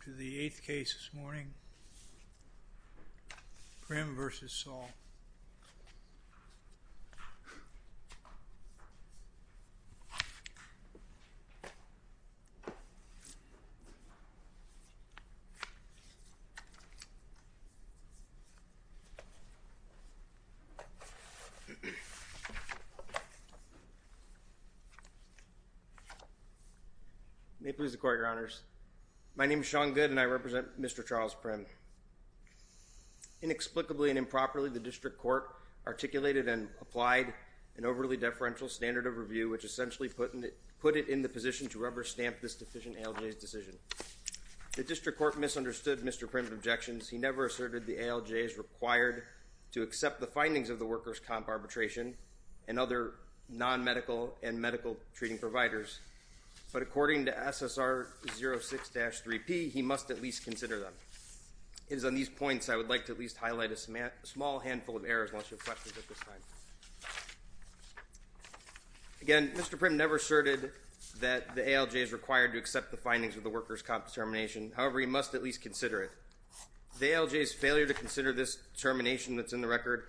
Primm v. Andrew M. Saul May it please the court, your honors. My name is Sean Good and I represent Mr. Charles Primm. Inexplicably and improperly, the district court articulated and applied an overly deferential standard of review, which essentially put it in the position to rubber stamp this deficient ALJ's decision. The district court misunderstood Mr. Primm's objections. He never asserted the ALJ is required to accept the findings of the workers' comp arbitration and other non-medical and medical treating providers, but according to SSR 06-3P, he must at least consider them. It is on these points I would like to at least highlight a small handful of errors unless you have questions at this time. Again, Mr. Primm never asserted that the ALJ is required to accept the findings of the workers' comp determination. However, he must at least consider it. The ALJ's failure to consider this determination that's in the record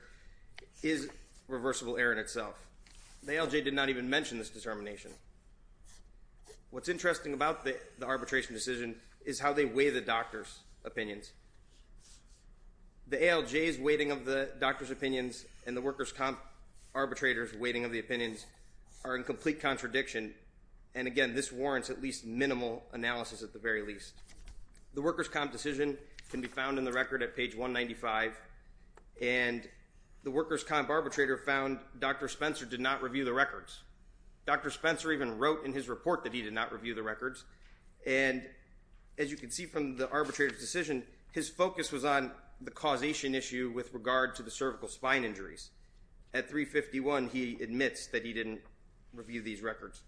is a reversible error in itself. The ALJ did not even mention this determination. What's interesting about the arbitration decision is how they weigh the doctor's opinions. The ALJ's weighting of the doctor's opinions and the workers' comp arbitrator's weighting of the opinions are in complete contradiction, and again, this warrants at least minimal analysis at the very least. The workers' comp decision can be found in the record at page 195, and the workers' comp arbitrator found Dr. Spencer did not review the records. Dr. Spencer even wrote in his report that he did not review the records, and as you can see from the arbitrator's decision, his focus was on the causation issue with regard to the cervical spine injuries. At 351, he admits that he didn't review these records,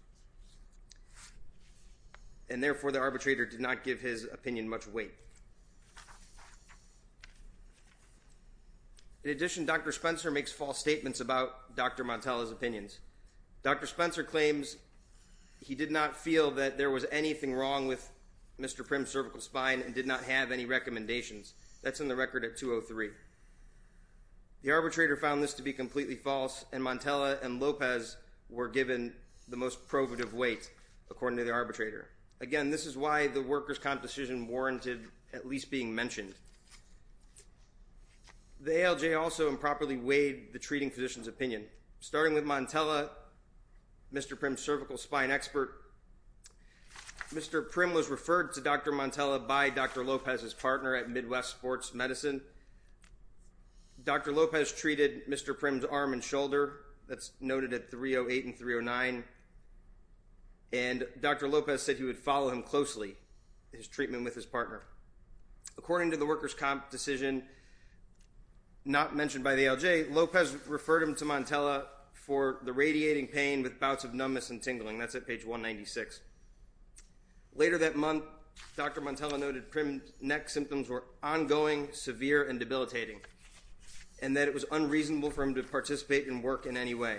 and therefore the arbitrator did not give his opinion much weight. In addition, Dr. Spencer makes false statements about Dr. Montella's opinions. Dr. Spencer claims he did not feel that there was anything wrong with Mr. Prim's cervical spine and did not have any recommendations. That's in the record at 203. The arbitrator found this to be completely false, and Montella and Lopez were given the most probative weight, according to the arbitrator. Again, this is why the workers' comp decision warranted at least being mentioned. The ALJ also improperly weighed the treating physician's opinion. Starting with Montella, Mr. Prim's cervical spine expert, Mr. Prim was referred to Dr. Montella by Dr. Lopez's partner at Midwest Sports Medicine. Dr. Lopez treated Mr. Prim's arm and shoulder. That's noted at 308 and 309, and Dr. Lopez said he would follow him closely, his treatment with his partner. According to the workers' comp decision not mentioned by the ALJ, Lopez referred him to Montella for the radiating pain with bouts of numbness and tingling. That's at page 196. Later that month, Dr. Montella noted Prim's neck symptoms were ongoing, severe, and debilitating, and that it was unreasonable for him to participate in work in any way.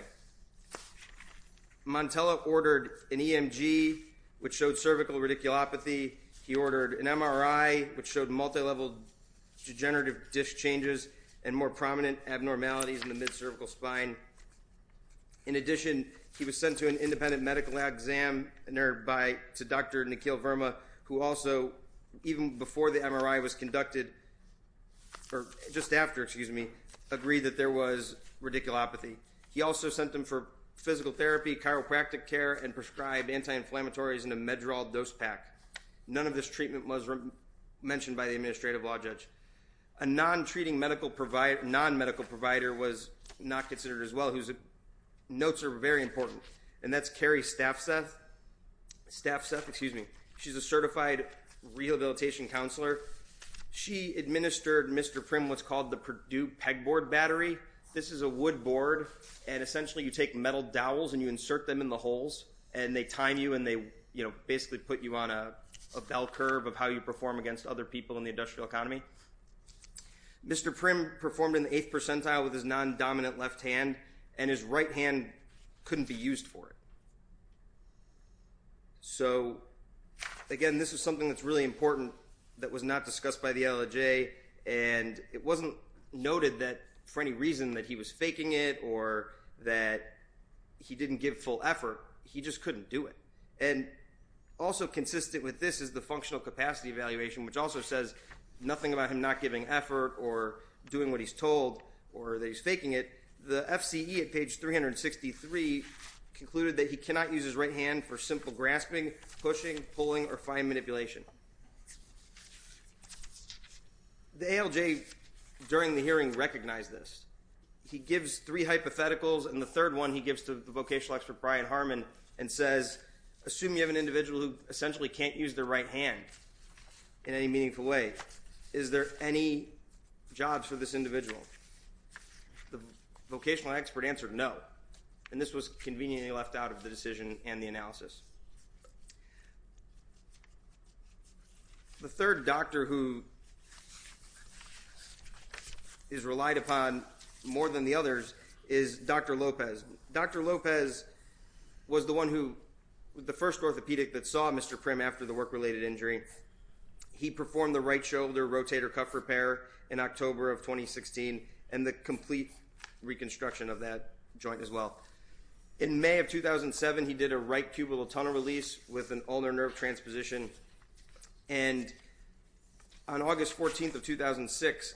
Montella ordered an EMG, which showed cervical radiculopathy. He ordered an MRI, which showed multilevel degenerative disc changes and more prominent abnormalities in the mid-cervical spine. In addition, he was sent to an independent medical examiner to Dr. Nikhil Verma, who also, even before the MRI was conducted, or just after, excuse me, agreed that there was radiculopathy. He also sent him for physical therapy, chiropractic care, and prescribed anti-inflammatories and a Meddral dose pack. None of this treatment was mentioned by the administrative law judge. A non-treating medical provider, non-medical provider was not considered as well, whose notes are very important, and that's Carrie Staffseth. Staffseth, excuse me. She's a certified rehabilitation counselor. She administered Mr. Prim what's called the Purdue pegboard battery. This is a wood board, and essentially you take metal dowels and you insert them in the holes, and they time you and they basically put you on a bell curve of how you perform against other people in the industrial economy. Mr. Prim performed in the eighth percentile with his non-dominant left hand, and his right hand couldn't be used for it. So, again, this is something that's really important that was not discussed by the LLJ, and it wasn't noted that for any reason that he was faking it or that he didn't give full effort. He just couldn't do it, and also consistent with this is the functional capacity evaluation, which also says nothing about him not giving effort or doing what he's told or that he's faking it. The FCE at page 363 concluded that he cannot use his right hand for simple grasping, pushing, pulling, or fine manipulation. The ALJ during the hearing recognized this. He gives three hypotheticals, and the third one he gives to the vocational expert Brian Harmon and says, assume you have an individual who essentially can't use their right hand in any meaningful way. Is there any jobs for this individual? The vocational expert answered no, and this was conveniently left out of the decision and the analysis. The third doctor who is relied upon more than the others is Dr. Lopez. Dr. Lopez was the one who, the first orthopedic that saw Mr. Prim after the work-related injury. He performed the right shoulder rotator cuff repair in October of 2016 and the complete reconstruction of that joint as well. In May of 2007, he did a right cubital tunnel release with an ulnar nerve transposition, and on August 14th of 2006,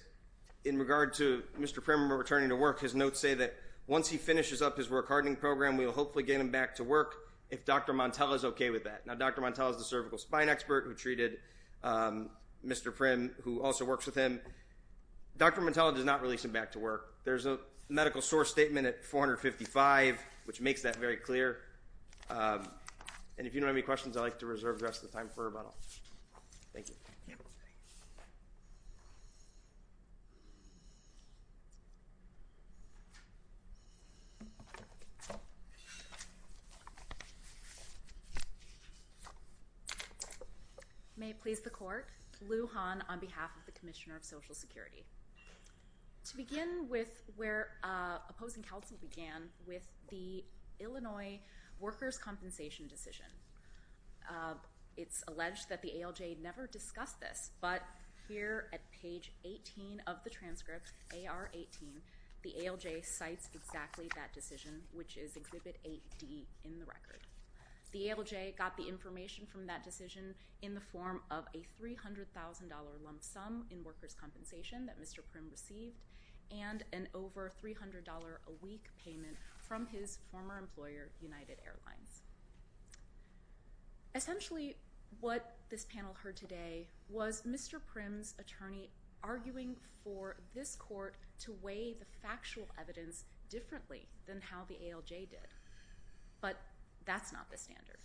in regard to Mr. Prim returning to work, his notes say that once he finishes up his work-hardening program, we will hopefully get him back to work if Dr. Montella is okay with that. Now, Dr. Montella is the cervical spine expert who treated Mr. Prim, who also works with him. Dr. Montella does not release him back to work. There's a medical source statement at 455, which makes that very clear. And if you don't have any questions, I'd like to reserve the rest of the time for rebuttal. Thank you. May it please the Court. Lou Han on behalf of the Commissioner of Social Security. To begin with where opposing counsel began with the Illinois workers' compensation decision. It's alleged that the ALJ never discussed this, but here at page 18 of the transcript, AR18, the ALJ cites exactly that decision, which is Exhibit 8D in the record. The ALJ got the information from that decision in the form of a $300,000 lump sum in workers' compensation that Mr. Prim received and an over $300 a week payment from his former employer, United Airlines. Essentially, what this panel heard today was Mr. Prim's attorney arguing for this court to weigh the factual evidence differently than how the ALJ did. But that's not the standard.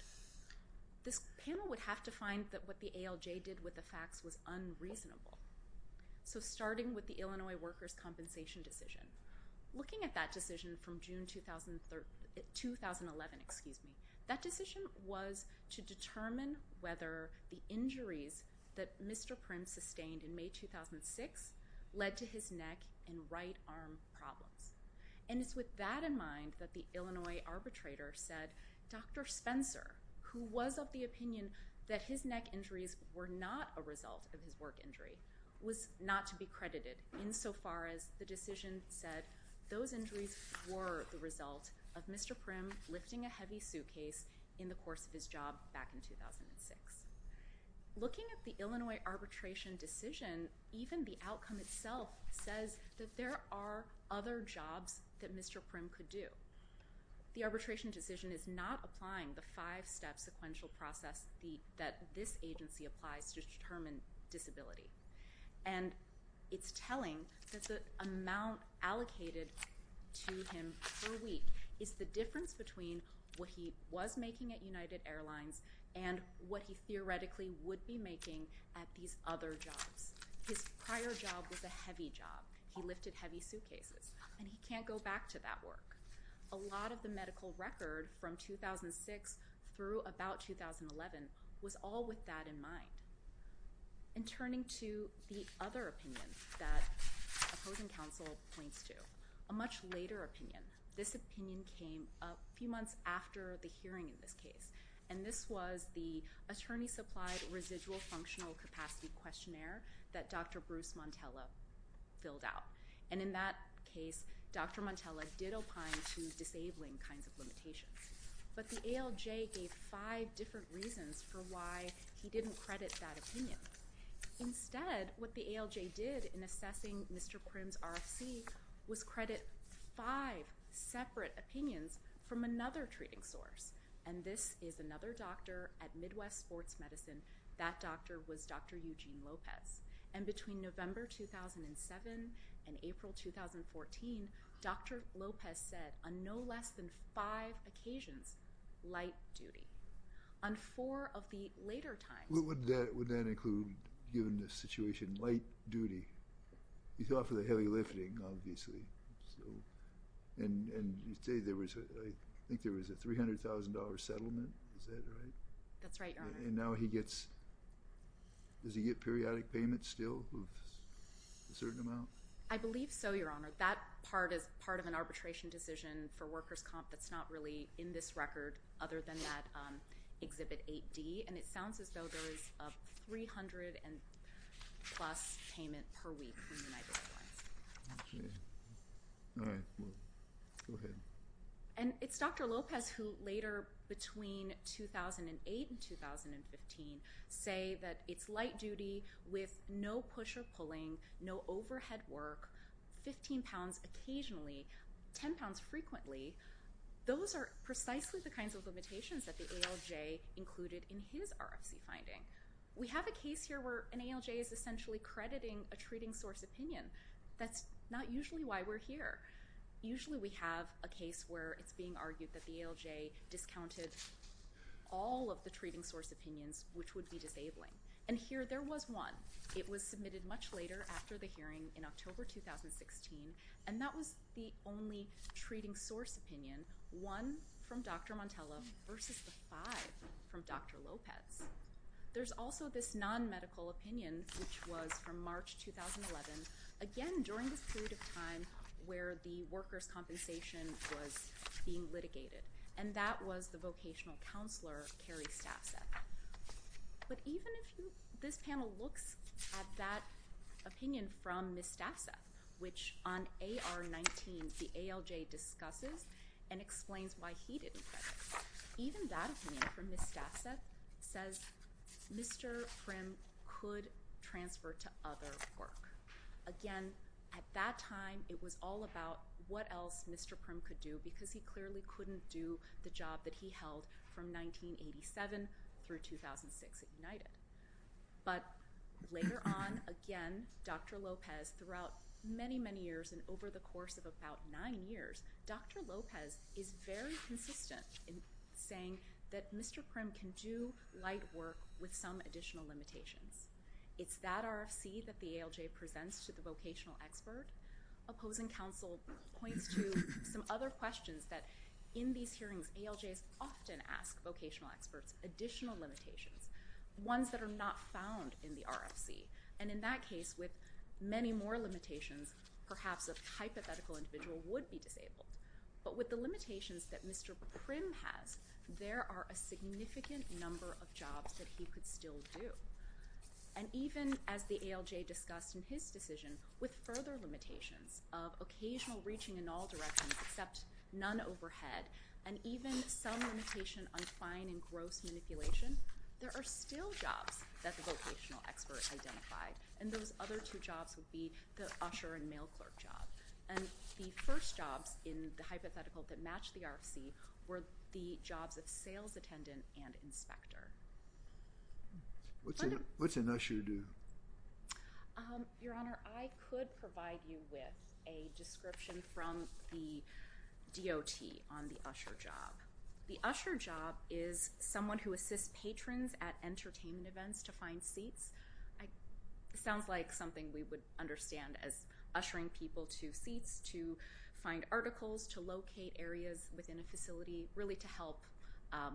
This panel would have to find that what the ALJ did with the facts was unreasonable. So starting with the Illinois workers' compensation decision, looking at that decision from June 2011, excuse me, that decision was to determine whether the injuries that Mr. Prim sustained in May 2006 led to his neck and right arm problems. And it's with that in mind that the Illinois arbitrator said, Dr. Spencer, who was of the opinion that his neck injuries were not a result of his work injury, was not to be credited insofar as the decision said those injuries were the result of Mr. Prim lifting a heavy suitcase in the course of his job back in 2006. Looking at the Illinois arbitration decision, even the outcome itself says that there are other jobs that Mr. Prim could do. The arbitration decision is not applying the five-step sequential process that this agency applies to determine disability. And it's telling that the amount allocated to him per week is the difference between what he was making at United Airlines and what he theoretically would be making at these other jobs. His prior job was a heavy job. He lifted heavy suitcases. And he can't go back to that work. A lot of the medical record from 2006 through about 2011 was all with that in mind. And turning to the other opinion that opposing counsel points to, a much later opinion, this opinion came a few months after the hearing in this case. And this was the attorney-supplied residual functional capacity questionnaire that Dr. Bruce Montella filled out. And in that case, Dr. Montella did opine to disabling kinds of limitations. But the ALJ gave five different reasons for why he didn't credit that opinion. Instead, what the ALJ did in assessing Mr. Prim's RFC was credit five separate opinions from another treating source. And this is another doctor at Midwest Sports Medicine. That doctor was Dr. Eugene Lopez. And between November 2007 and April 2014, Dr. Lopez said on no less than five occasions, light duty. On four of the later times. Would that include, given the situation, light duty? He's off of the heavy lifting, obviously. And you say there was a $300,000 settlement. Is that right? That's right, Your Honor. And now he gets, does he get periodic payments still of a certain amount? I believe so, Your Honor. That part is part of an arbitration decision for workers' comp that's not really in this record other than that Exhibit 8D. And it sounds as though there is a $300,000 plus payment per week from United Airlines. Okay. All right. Go ahead. And it's Dr. Lopez who later, between 2008 and 2015, say that it's light duty with no push or pulling, no overhead work, 15 pounds occasionally, 10 pounds frequently. Those are precisely the kinds of limitations that the ALJ included in his RFC finding. We have a case here where an ALJ is essentially crediting a treating source opinion. That's not usually why we're here. Usually we have a case where it's being argued that the ALJ discounted all of the treating source opinions, which would be disabling. And here there was one. It was submitted much later after the hearing in October 2016, and that was the only treating source opinion, one from Dr. Montella versus the five from Dr. Lopez. There's also this non-medical opinion, which was from March 2011, again during this period of time where the workers' compensation was being litigated, and that was the vocational counselor, Carrie Staffseth. But even if this panel looks at that opinion from Ms. Staffseth, which on AR-19 the ALJ discusses and explains why he didn't credit, even that opinion from Ms. Staffseth says Mr. Prim could transfer to other work. Again, at that time it was all about what else Mr. Prim could do because he clearly couldn't do the job that he held from 1987 through 2006 at United. But later on, again, Dr. Lopez, throughout many, many years and over the course of about nine years, Dr. Lopez is very consistent in saying that Mr. Prim can do light work with some additional limitations. It's that RFC that the ALJ presents to the vocational expert. Opposing counsel points to some other questions that in these hearings, ALJs often ask vocational experts additional limitations, ones that are not found in the RFC, and in that case with many more limitations, perhaps a hypothetical individual would be disabled. But with the limitations that Mr. Prim has, there are a significant number of jobs that he could still do. And even as the ALJ discussed in his decision, with further limitations of occasional reaching in all directions except none overhead, and even some limitation on fine and gross manipulation, there are still jobs that the vocational expert identified, and those other two jobs would be the usher and mail clerk job. And the first jobs in the hypothetical that matched the RFC were the jobs of sales attendant and inspector. What's an usher do? Your Honor, I could provide you with a description from the DOT on the usher job. The usher job is someone who assists patrons at entertainment events to find seats. It sounds like something we would understand as ushering people to seats to find articles, to locate areas within a facility, really to help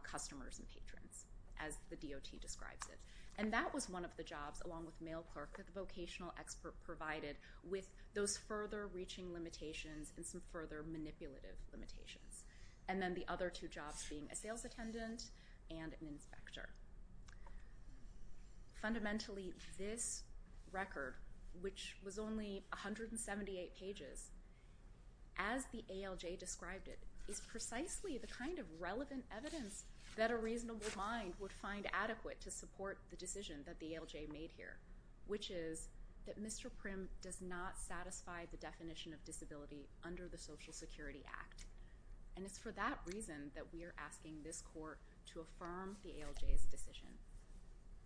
customers and patrons, as the DOT describes it. And that was one of the jobs, along with mail clerk, that the vocational expert provided with those further reaching limitations and some further manipulative limitations. And then the other two jobs being a sales attendant and an inspector. Fundamentally, this record, which was only 178 pages, as the ALJ described it, is precisely the kind of relevant evidence that a reasonable mind would find adequate to support the decision that the ALJ made here, which is that Mr. Prim does not satisfy the definition of disability under the Social Security Act. And it's for that reason that we are asking this court to affirm the ALJ's decision.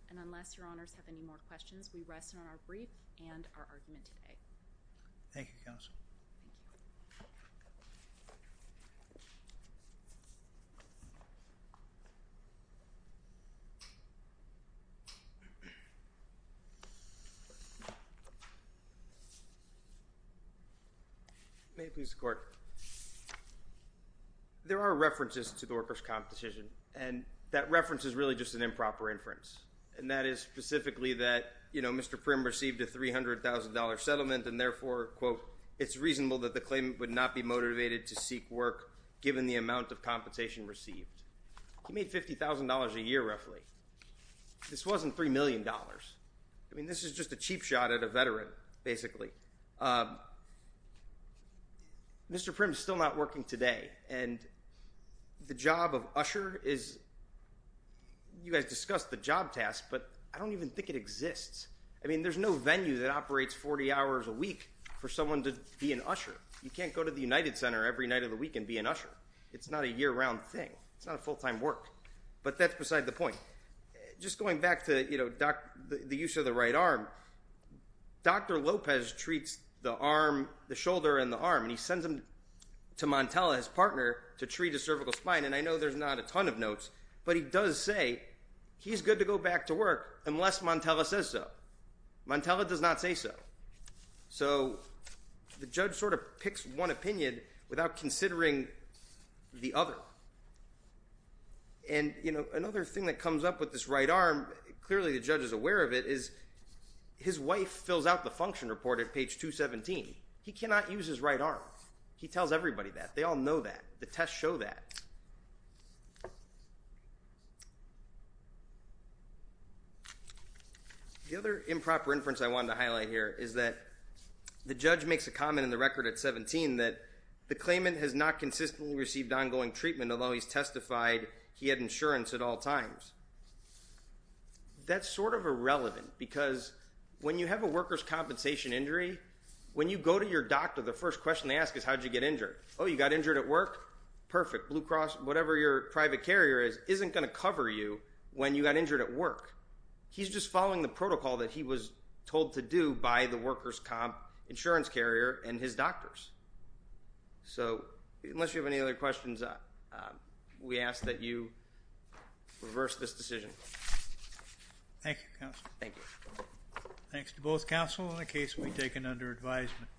And unless Your Honors have any more questions, we rest on our brief and our argument today. Thank you, Counsel. Thank you. May it please the Court. There are references to the workers' comp decision, and that reference is really just an improper inference. And that is specifically that, you know, Mr. Prim received a $300,000 settlement, and therefore, quote, it's reasonable that the claimant would not be motivated to seek work given the amount of compensation received. He made $50,000 a year, roughly. This wasn't $3 million. I mean, this is just a cheap shot at a veteran, basically. Mr. Prim is still not working today, and the job of usher is, you guys discussed the job task, but I don't even think it exists. I mean, there's no venue that operates 40 hours a week for someone to be an usher. You can't go to the United Center every night of the week and be an usher. It's not a year-round thing. It's not a full-time work. But that's beside the point. Just going back to, you know, the use of the right arm, Dr. Lopez treats the shoulder and the arm, and he sends them to Montella, his partner, to treat a cervical spine, and I know there's not a ton of notes, but he does say he's good to go back to work unless Montella says so. Montella does not say so. So the judge sort of picks one opinion without considering the other. And, you know, another thing that comes up with this right arm, clearly the judge is aware of it, is his wife fills out the function report at page 217. He cannot use his right arm. He tells everybody that. They all know that. The tests show that. The other improper inference I wanted to highlight here is that the judge makes a comment in the record at 17 that the claimant has not consistently received ongoing treatment, although he's testified he had insurance at all times. That's sort of irrelevant because when you have a worker's compensation injury, when you go to your doctor, the first question they ask is, how did you get injured? Oh, you got injured at work? Perfect. And the judge says, well, you know, your blue cross, whatever your private carrier is, isn't going to cover you when you got injured at work. He's just following the protocol that he was told to do by the worker's comp insurance carrier and his doctors. So unless you have any other questions, we ask that you reverse this decision. Thank you, counsel. Thank you. Thanks to both counsel in the case we've taken under advisement.